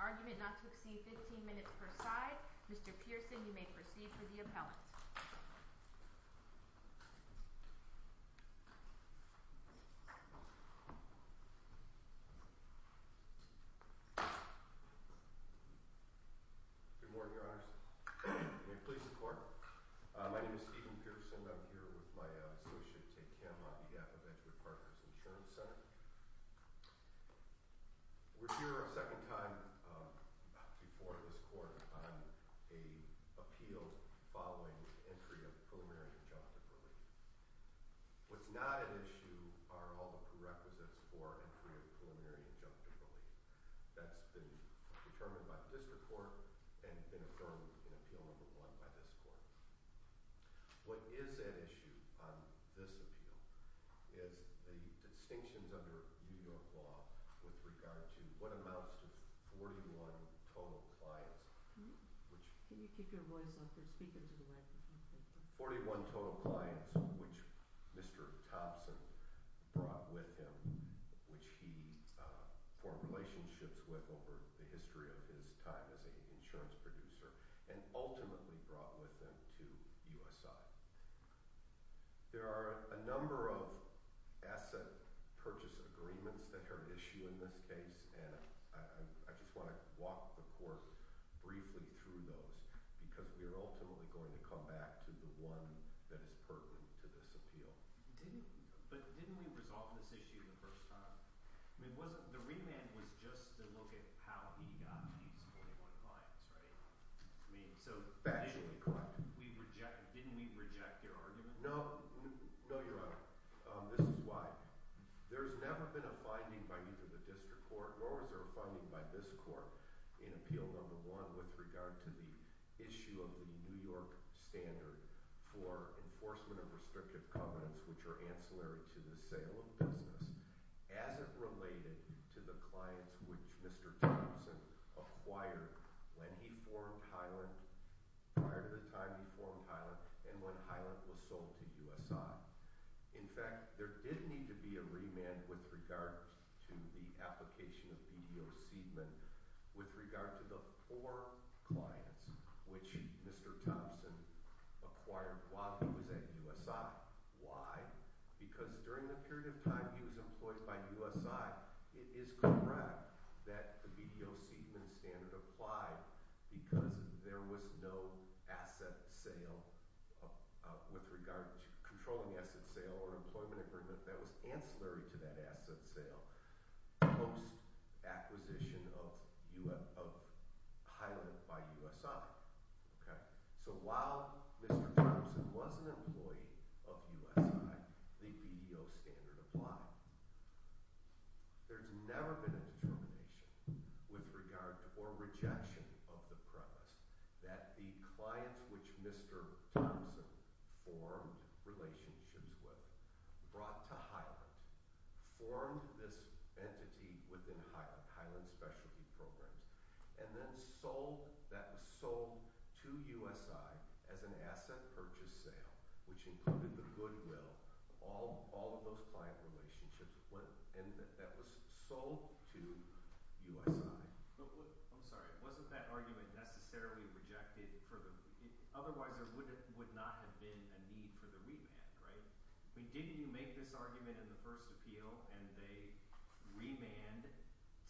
Argument not to exceed 15 minutes per side. Mr. Pearson, you may proceed for the appellate. Good morning, Your Honors. May it please the Court. My name is Stephen Pearson. I'm here with my associate, Ted Kim, on behalf of Edgewood Partners Insurance Center. We're here a second time before this Court on an appeal following entry of preliminary injunctive relief. What's not at issue are all the prerequisites for entry of preliminary injunctive relief. That's been determined by the District Court and been affirmed in Appeal No. 1 by this Court. What is at issue on this appeal is the distinctions under New York law with regard to what amounts to 41 total clients. 41 total clients, which Mr. Thompson brought with him, which he formed relationships with over the history of his time as an insurance producer, and ultimately brought with him to USI. There are a number of asset purchase agreements that are at issue in this case, and I just want to walk the Court briefly through those because we are ultimately going to come back to the one that is pertinent to this appeal. Didn't we resolve this issue the first time? The remand was just to look at how he got these 41 clients, right? Didn't we reject your argument? No. No, Your Honor. This is why. There's never been a finding by either the District Court nor was there a finding by this Court in Appeal No. 1 with regard to the issue of the New York standard for enforcement of restrictive covenants, which are ancillary to the sale of business, as it related to the clients which Mr. Thompson acquired when he formed Hyland. Prior to the time he formed Hyland and when Hyland was sold to USI. In fact, there did need to be a remand with regard to the application of BDO Seidman with regard to the four clients which Mr. Thompson acquired while he was at USI. Why? Because during the period of time he was employed by USI, it is correct that the BDO Seidman standard applied because there was no asset sale with regard to controlling asset sale or employment agreement that was ancillary to that asset sale post acquisition of Hyland by USI. So while Mr. Thompson was an employee of USI, the BDO standard applied. There's never been a determination with regard to or rejection of the premise that the clients which Mr. Thompson formed relationships with, brought to Hyland, formed this entity within Hyland, Hyland Specialty Programs, and then sold, that was sold to USI as an asset purchase sale, which included the goodwill of all of those client relationships. And that was sold to USI. I'm sorry. Wasn't that argument necessarily rejected for the – otherwise there would not have been a need for the remand, right? I mean, didn't you make this argument in the first appeal and they remanded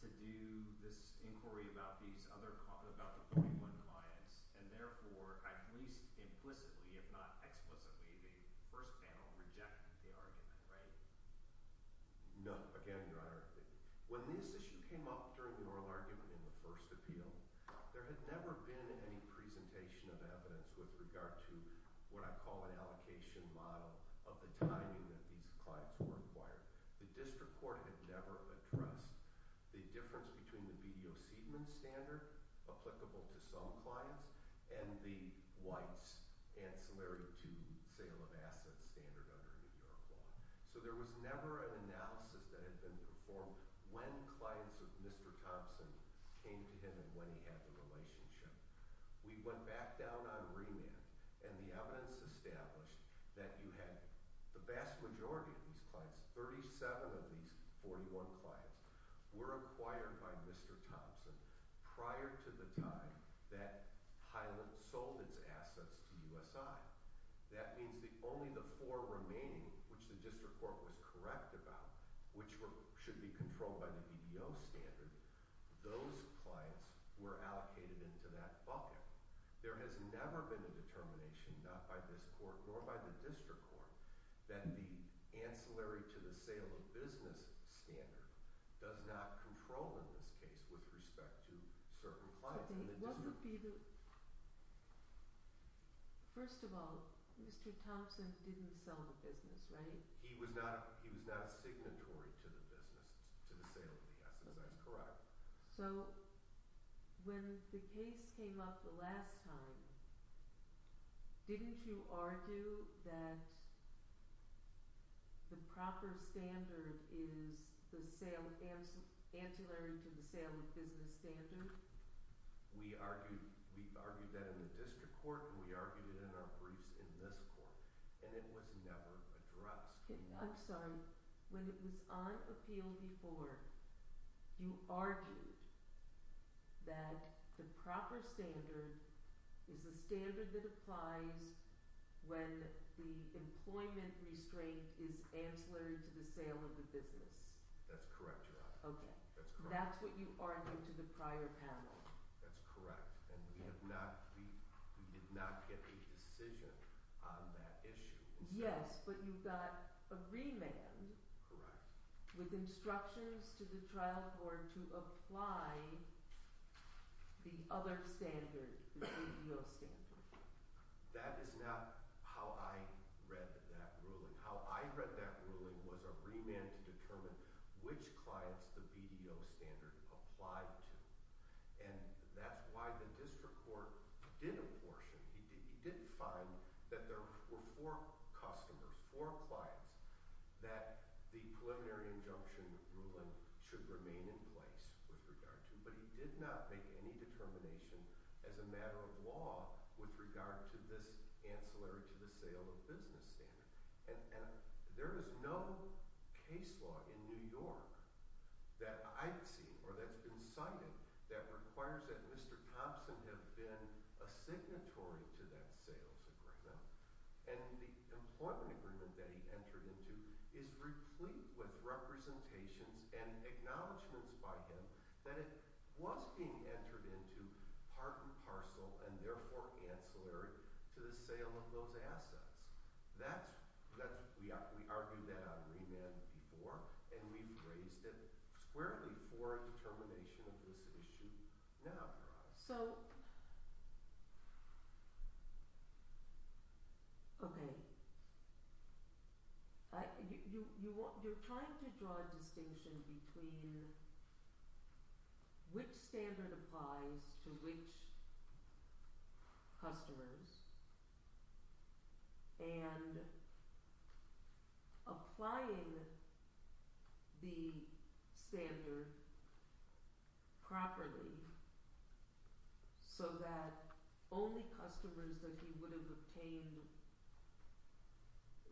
to do this inquiry about these other – about the 41 clients, and therefore, at least implicitly, if not explicitly, the first panel rejected the argument, right? No. Again, Your Honor, when this issue came up during the oral argument in the first appeal, there had never been any presentation of evidence with regard to what I call an allocation model of the timing that these clients were acquired. The district court had never addressed the difference between the BDO Seidman standard, applicable to some clients, and the White's ancillary to sale of assets standard under New York law. So there was never an analysis that had been performed when clients of Mr. Thompson came to him and when he had the relationship. We went back down on remand and the evidence established that you had – the vast majority of these clients, 37 of these 41 clients, were acquired by Mr. Thompson prior to the time that Hyland sold its assets to USI. That means that only the four remaining, which the district court was correct about, which should be controlled by the BDO standard, those clients were allocated into that bucket. There has never been a determination, not by this court nor by the district court, that the ancillary to the sale of business standard does not control in this case with respect to certain clients. What would be the – first of all, Mr. Thompson didn't sell the business, right? He was not a signatory to the business, to the sale of the assets. That's correct. So when the case came up the last time, didn't you argue that the proper standard is the sale – ancillary to the sale of business standard? We argued that in the district court and we argued it in our briefs in this court, and it was never addressed. I'm sorry. When it was on appeal before, you argued that the proper standard is the standard that applies when the employment restraint is ancillary to the sale of the business. That's correct, Your Honor. Okay. That's correct. That's what you argued to the prior panel. That's correct, and we have not – we did not get a decision on that issue. Yes, but you got a remand with instructions to the trial court to apply the other standard, the BDO standard. That is not how I read that ruling. How I read that ruling was a remand to determine which clients the BDO standard applied to, and that's why the district court did apportion. He did find that there were four customers, four clients that the preliminary injunction ruling should remain in place with regard to, but he did not make any determination as a matter of law with regard to this ancillary to the sale of business standard. There is no case law in New York that I've seen or that's been cited that requires that Mr. Thompson have been a signatory to that sales agreement, and the employment agreement that he entered into is replete with representations and acknowledgments by him that it was being entered into part and parcel and therefore ancillary to the sale of those assets. That's – we argued that on remand before, and we've raised it squarely for a determination of this issue now for us. So okay, you're trying to draw a distinction between which standard applies to which customers and applying the standard properly. So that only customers that he would have obtained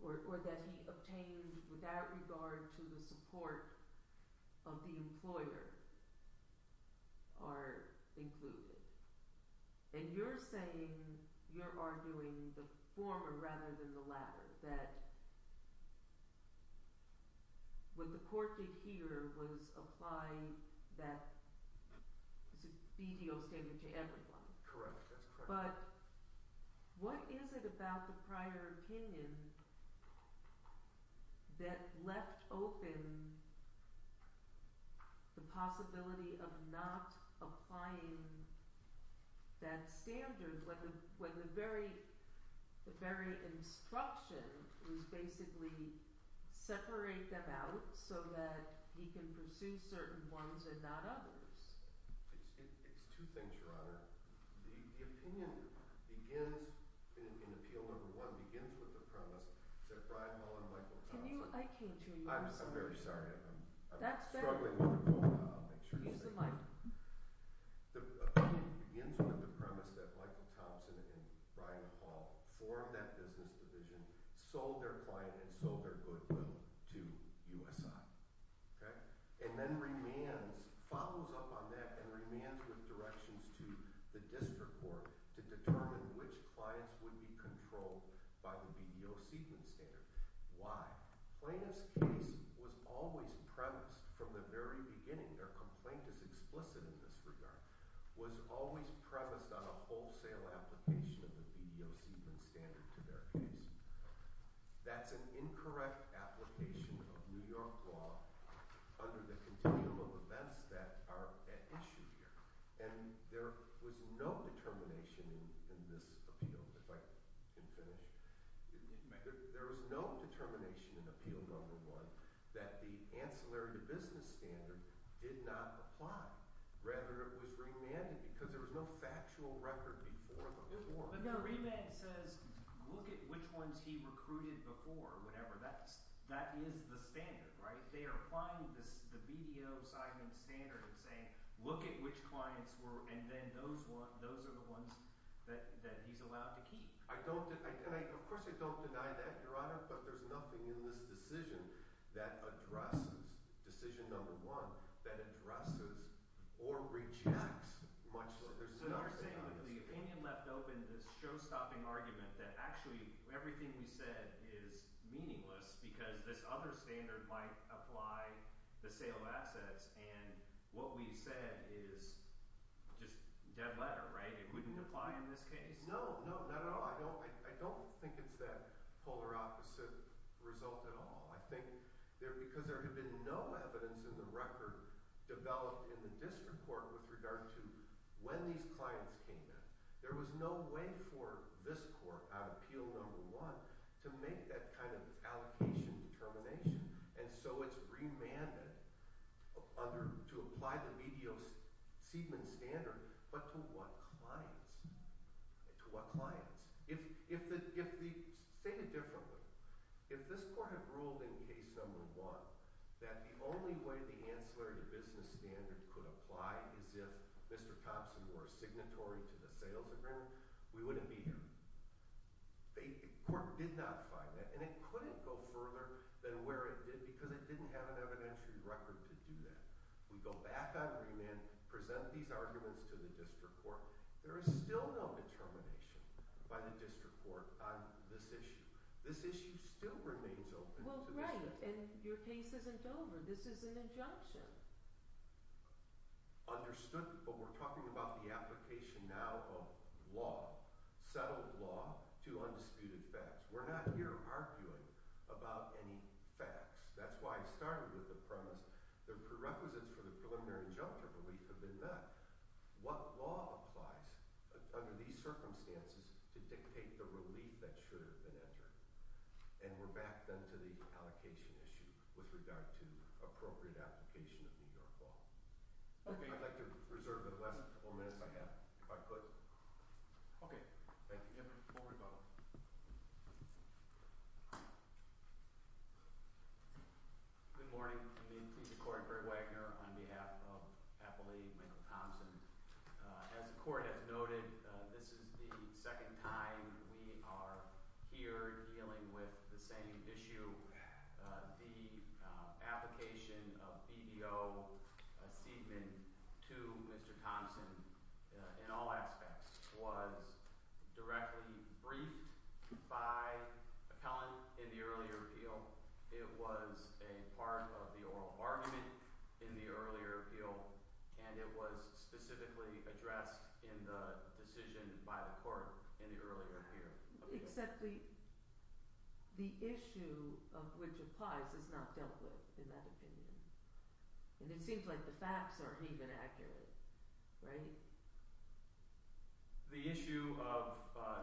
or that he obtained without regard to the support of the employer are included. And you're saying – you're arguing the former rather than the latter, that what the court did here was apply that BTO standard to everyone. Correct. That's correct. What is it about the prior opinion that left open the possibility of not applying that standard when the very instruction was basically separate them out so that he can pursue certain ones and not others? It's two things, Your Honor. The opinion begins – in Appeal No. 1 begins with the premise that Brian Hall and Michael Thompson – Can you – I can't hear you. I'm very sorry. I'm struggling with the phone now. I'll make sure it's safe. Use the mic. The opinion begins with the premise that Michael Thompson and Brian Hall formed that business division, sold their client, and sold their goodwill to USI. Okay? And then remands – follows up on that and remands with directions to the district court to determine which clients would be controlled by the BTO sequence standard. Why? Plaintiff's case was always premised from the very beginning – their complaint is explicit in this regard – was always premised on a wholesale application of the BTO sequence standard to their case. That's an incorrect application of New York law under the continuum of events that are at issue here. And there was no determination in this appeal – if I can finish. There was no determination in Appeal No. 1 that the ancillary to business standard did not apply. Rather, it was remanded because there was no factual record before the war. But the remand says, look at which ones he recruited before, whatever. That is the standard, right? They are applying the BTO sequence standard and saying, look at which clients were – and then those are the ones that he's allowed to keep. I don't – and of course I don't deny that, Your Honor, but there's nothing in this decision that addresses – decision number one – that addresses or rejects much of it. So you're saying with the opinion left open, this show-stopping argument that actually everything we said is meaningless because this other standard might apply the sale of assets and what we said is just dead letter, right? It wouldn't apply in this case? No, no, not at all. I don't think it's that polar opposite result at all. I think there – because there had been no evidence in the record developed in the district court with regard to when these clients came in. There was no way for this court out of Appeal No. 1 to make that kind of allocation determination. And so it's remanded under – to apply the BTO Seidman standard, but to what clients? To what clients? If the – say it differently. If this court had ruled in Case No. 1 that the only way the ancillary to business standard could apply is if Mr. Thompson were a signatory to the sales agreement, we wouldn't be here. The court did not find that, and it couldn't go further than where it did because it didn't have an evidentiary record to do that. We go back on remand, present these arguments to the district court. There is still no determination by the district court on this issue. This issue still remains open to the district court. Well, right, and your case isn't over. This is an injunction. Understood, but we're talking about the application now of law, settled law, to undisputed facts. We're not here arguing about any facts. That's why I started with the premise the prerequisites for the preliminary injunctive relief have been met. What law applies under these circumstances to dictate the relief that should have been entered? And we're back, then, to the allocation issue with regard to appropriate application of New York law. Okay, I'd like to reserve the last couple minutes I have if I could. Okay. Thank you, Kevin. Good morning. I'm going to introduce the court, Greg Wagner, on behalf of Appellee Michael Thompson. As the court has noted, this is the second time we are here dealing with the same issue. The application of BBO Seidman to Mr. Thompson in all aspects was directly briefed by appellant in the earlier appeal. It was a part of the oral argument in the earlier appeal, and it was specifically addressed in the decision by the court in the earlier appeal. Except the issue of which applies is not dealt with in that opinion, and it seems like the facts aren't even accurate, right? The issue of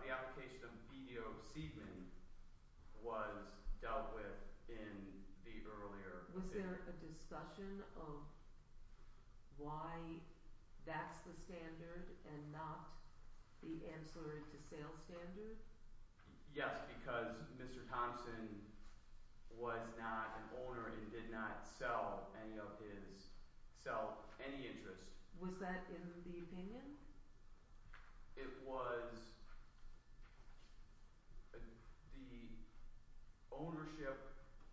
the application of BBO Seidman was dealt with in the earlier appeal. Was there a discussion of why that's the standard and not the answer to sales standard? Yes, because Mr. Thompson was not an owner and did not sell any of his – sell any interest. Was that in the opinion? It was – the ownership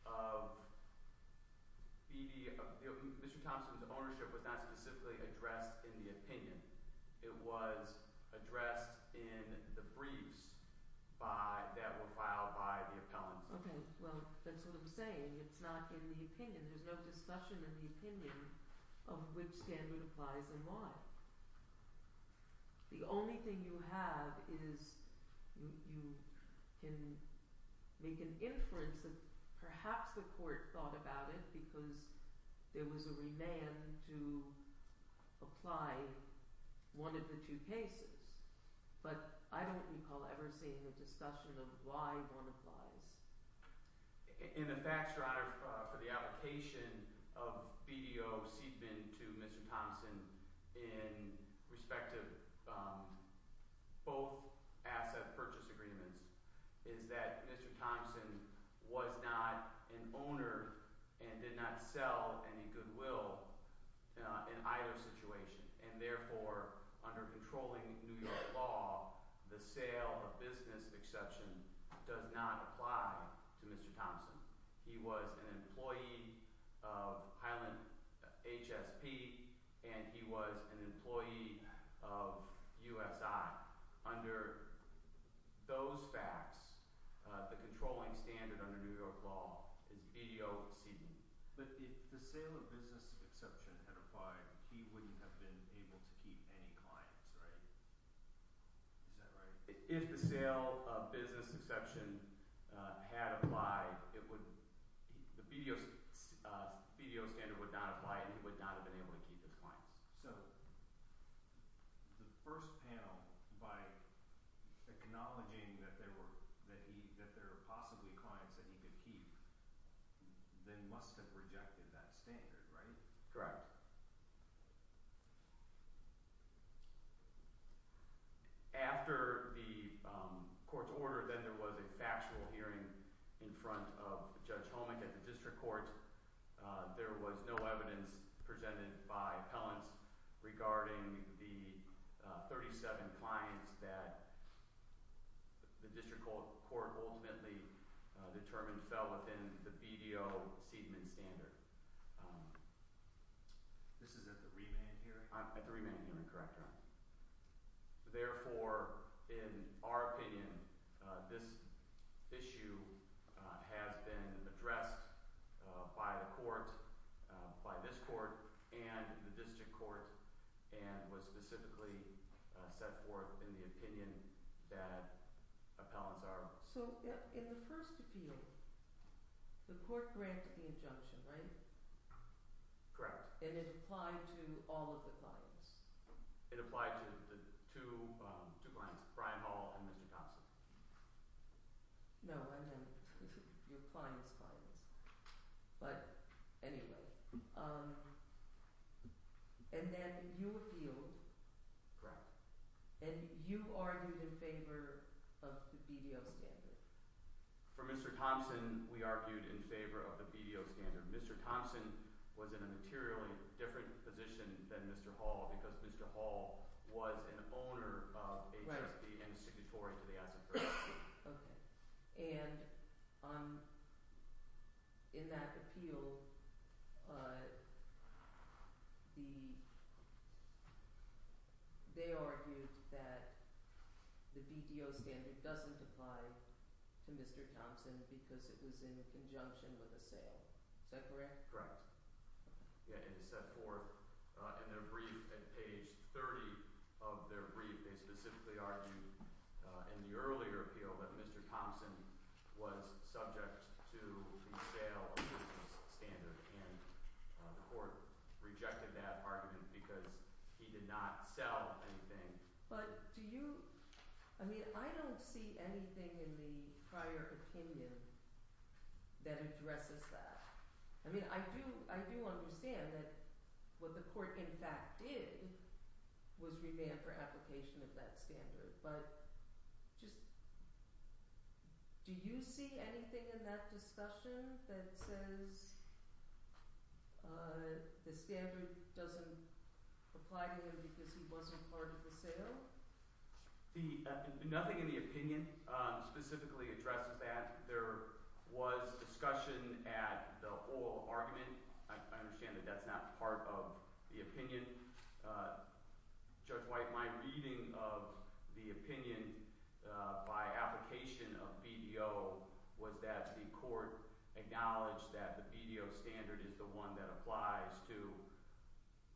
of BBO – Mr. Thompson's ownership was not specifically addressed in the opinion. It was addressed in the briefs by – that were filed by the appellants. Okay. Well, that's what I'm saying. It's not in the opinion. There's no discussion in the opinion of which standard applies and why. The only thing you have is you can make an inference that perhaps the court thought about it because there was a remand to apply one of the two cases. But I don't recall ever seeing a discussion of why one applies. In the facts, Your Honor, for the application of BBO Seidman to Mr. Thompson in respect of both asset purchase agreements is that Mr. Thompson was not an owner and did not sell any goodwill in either situation. And therefore, under controlling New York law, the sale of business exception does not apply to Mr. Thompson. He was an employee of Highland HSP, and he was an employee of USI. Under those facts, the controlling standard under New York law is BBO Seidman. But if the sale of business exception had applied, he wouldn't have been able to keep any clients, right? Is that right? If the sale of business exception had applied, it would – the BBO standard would not apply and he would not have been able to keep his clients. So the first panel, by acknowledging that there were – that there were possibly clients that he could keep, then must have rejected that standard, right? Correct. After the court's order, then there was a factual hearing in front of Judge Holmick at the district court. There was no evidence presented by appellants regarding the 37 clients that the district court ultimately determined fell within the BBO Seidman standard. This is at the remand hearing? At the remand hearing, correct, Your Honor. Therefore, in our opinion, this issue has been addressed by the court, by this court, and the district court, and was specifically set forth in the opinion that appellants are. So in the first appeal, the court granted the injunction, right? Correct. And it applied to all of the clients? It applied to the two clients, Brian Hall and Mr. Thompson. No, I meant your clients' clients. But anyway, and then you appealed. Correct. And you argued in favor of the BBO standard. For Mr. Thompson, we argued in favor of the BBO standard. Mr. Thompson was in a materially different position than Mr. Hall because Mr. Hall was an owner of HSB and a signatory to the asset protection. Okay. And in that appeal, they argued that the BBO standard doesn't apply to Mr. Thompson because it was in conjunction with a sale. Is that correct? Correct. Yeah, it is set forth in their brief at page 30 of their brief. They specifically argued in the earlier appeal that Mr. Thompson was subject to the sale of his standard, and the court rejected that argument because he did not sell anything. But do you – I mean, I don't see anything in the prior opinion that addresses that. I mean, I do understand that what the court, in fact, did was revamp her application of that standard, but just – do you see anything in that discussion that says the standard doesn't apply to him because he wasn't part of the sale? See, nothing in the opinion specifically addresses that. There was discussion at the whole argument. I understand that that's not part of the opinion. Judge White, my reading of the opinion by application of BBO was that the court acknowledged that the BBO standard is the one that applies to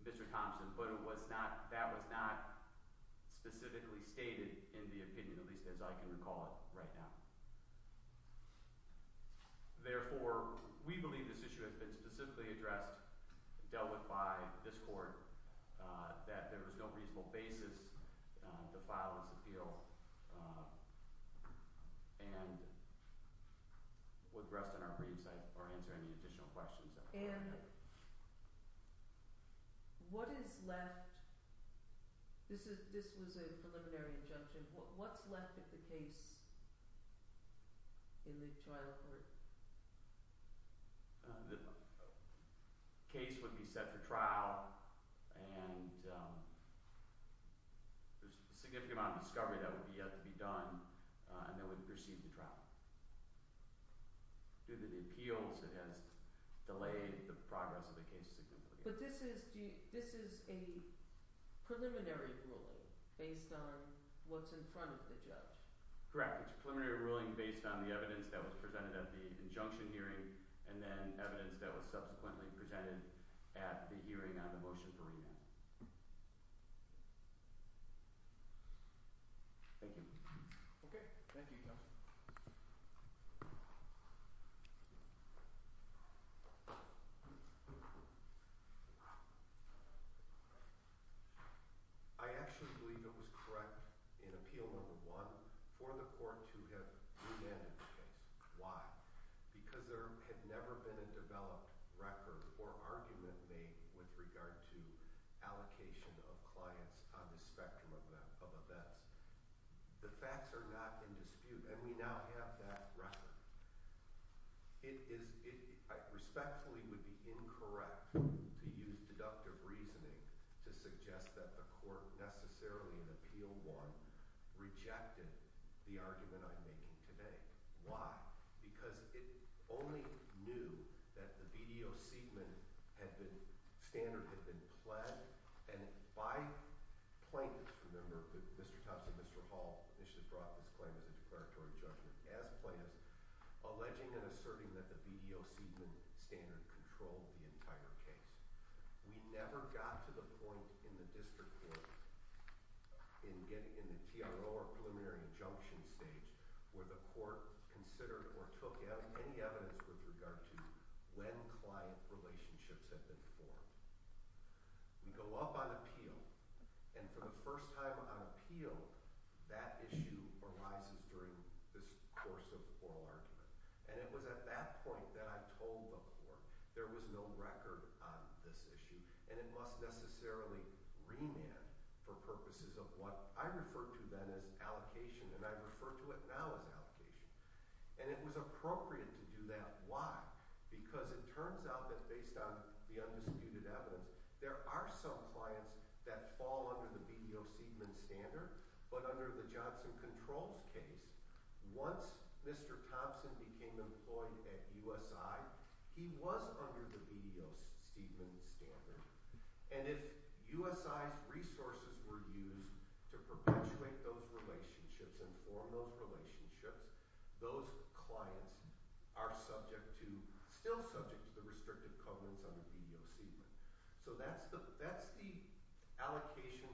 Mr. Thompson, but it was not – that was not specifically stated in the opinion, at least as I can recall it right now. Therefore, we believe this issue has been specifically addressed, dealt with by this court, that there was no reasonable basis to file this appeal, and would rest on our briefs or answer any additional questions. And what is left – this was a preliminary injunction. What's left of the case in the trial court? The case would be set for trial, and there's a significant amount of discovery that would yet to be done and that would precede the trial. Due to the appeals, it has delayed the progress of the case significantly. But this is – this is a preliminary ruling based on what's in front of the judge. Correct. It's a preliminary ruling based on the evidence that was presented at the injunction hearing and then evidence that was subsequently presented at the hearing on the motion for remand. Thank you. Okay. Thank you, Counsel. I actually believe it was correct in Appeal No. 1 for the court to have remanded the case. Why? Because there had never been a developed record or argument made with regard to allocation of clients on the spectrum of events. The facts are not in dispute, and we now have that record. It is – it respectfully would be incorrect to use deductive reasoning to suggest that the court necessarily in Appeal 1 rejected the argument I'm making today. Why? Because it only knew that the VDO Seidman had been – standard had been pled and by plaintiffs – remember, Mr. Tubbs and Mr. Hall initially brought this claim as a declaratory judgment as plaintiffs – alleging and asserting that the VDO Seidman standard controlled the entire case. We never got to the point in the district court in getting – in the TRO or preliminary injunction stage where the court considered or took any evidence with regard to when client relationships had been formed. We go up on appeal, and for the first time on appeal, that issue arises during this course of oral argument. And it was at that point that I told the court there was no record on this issue, and it must necessarily remand for purposes of what I referred to then as allocation, and I refer to it now as allocation. And it was appropriate to do that. Why? Because it turns out that based on the undisputed evidence, there are some clients that fall under the VDO Seidman standard, but under the Johnson Controls case, once Mr. Thompson became employed at USI, he was under the VDO Seidman standard. And if USI's resources were used to perpetuate those relationships and form those relationships, those clients are subject to – still subject to the restrictive covenants under VDO Seidman. So that's the allocation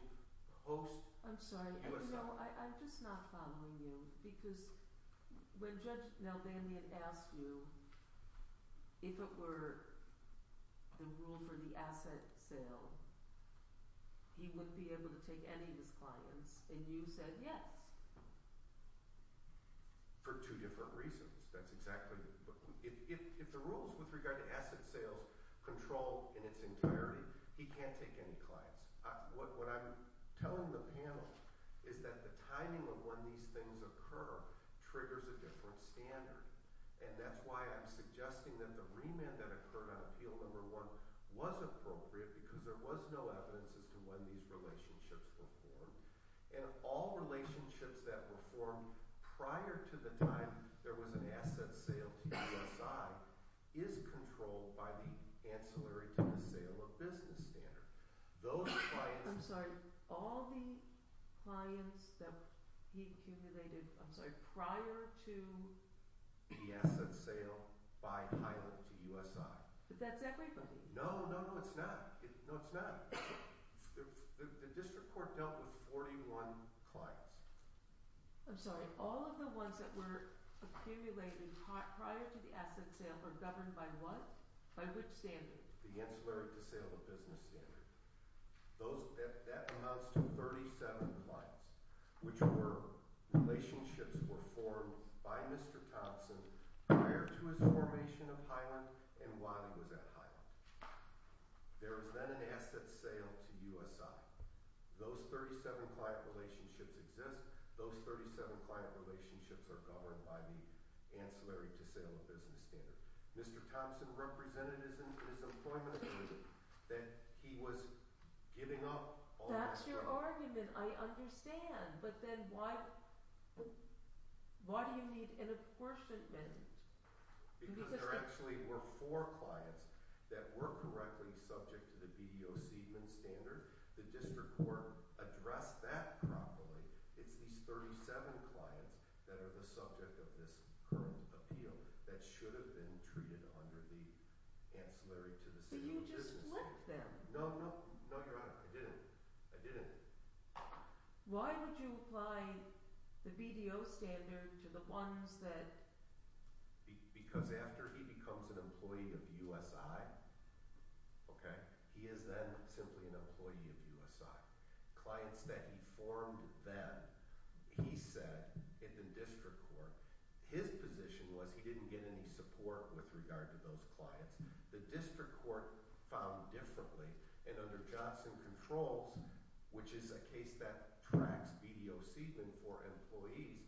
post-USI. I'm sorry. You know, I'm just not following you because when Judge Nelvanian asked you if it were the rule for the asset sale, he wouldn't be able to take any of his clients, and you said yes. For two different reasons. That's exactly – if the rules with regard to asset sales control in its entirety, he can't take any clients. What I'm telling the panel is that the timing of when these things occur triggers a different standard, and that's why I'm suggesting that the remand that occurred on appeal number one was appropriate because there was no evidence as to when these relationships were formed. And all relationships that were formed prior to the time there was an asset sale to USI is controlled by the ancillary to the sale of business standard. Those clients – I'm sorry. All the clients that he accumulated – I'm sorry – prior to the asset sale by pilot to USI. But that's everybody. No, no, no, it's not. No, it's not. The district court dealt with 41 clients. I'm sorry. All of the ones that were accumulated prior to the asset sale were governed by what? By which standard? The ancillary to sale of business standard. That amounts to 37 clients, which were relationships were formed by Mr. Thompson prior to his formation of Highland and while he was at Highland. There was then an asset sale to USI. Those 37 client relationships exist. Those 37 client relationships are governed by the ancillary to sale of business standard. Mr. Thompson represented his employment agreement that he was giving up on – That's your argument. I understand. But then why do you need an apportionment? Because there actually were four clients that were correctly subject to the BDO Seidman standard. The district court addressed that properly. It's these 37 clients that are the subject of this current appeal that should have been treated under the ancillary to the sale of business standard. But you just flipped them. No, no, no, Your Honor. I didn't. I didn't. Why would you apply the BDO standard to the ones that – Because after he becomes an employee of USI, okay, he is then simply an employee of USI. Clients that he formed then, he said in the district court, his position was he didn't get any support with regard to those clients. The district court found differently, and under Johnson Controls, which is a case that tracks BDO Seidman for employees,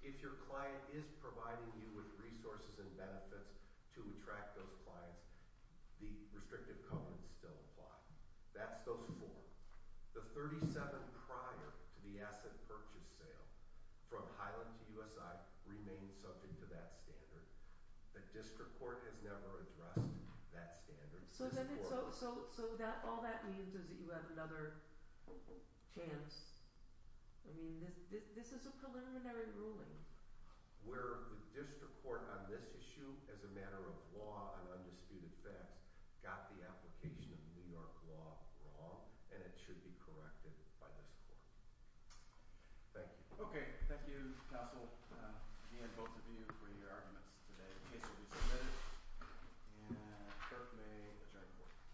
if your client is providing you with resources and benefits to attract those clients, the restrictive covenants still apply. That's those four. The 37 prior to the asset purchase sale from Highland to USI remain subject to that standard. The district court has never addressed that standard. So all that means is that you have another chance. I mean this is a preliminary ruling. Where the district court on this issue, as a matter of law and undisputed facts, got the application of New York law wrong, and it should be corrected by this court. Thank you. Okay, thank you, counsel, and both of you for your arguments today. The case will be submitted. And clerk may adjourn the court.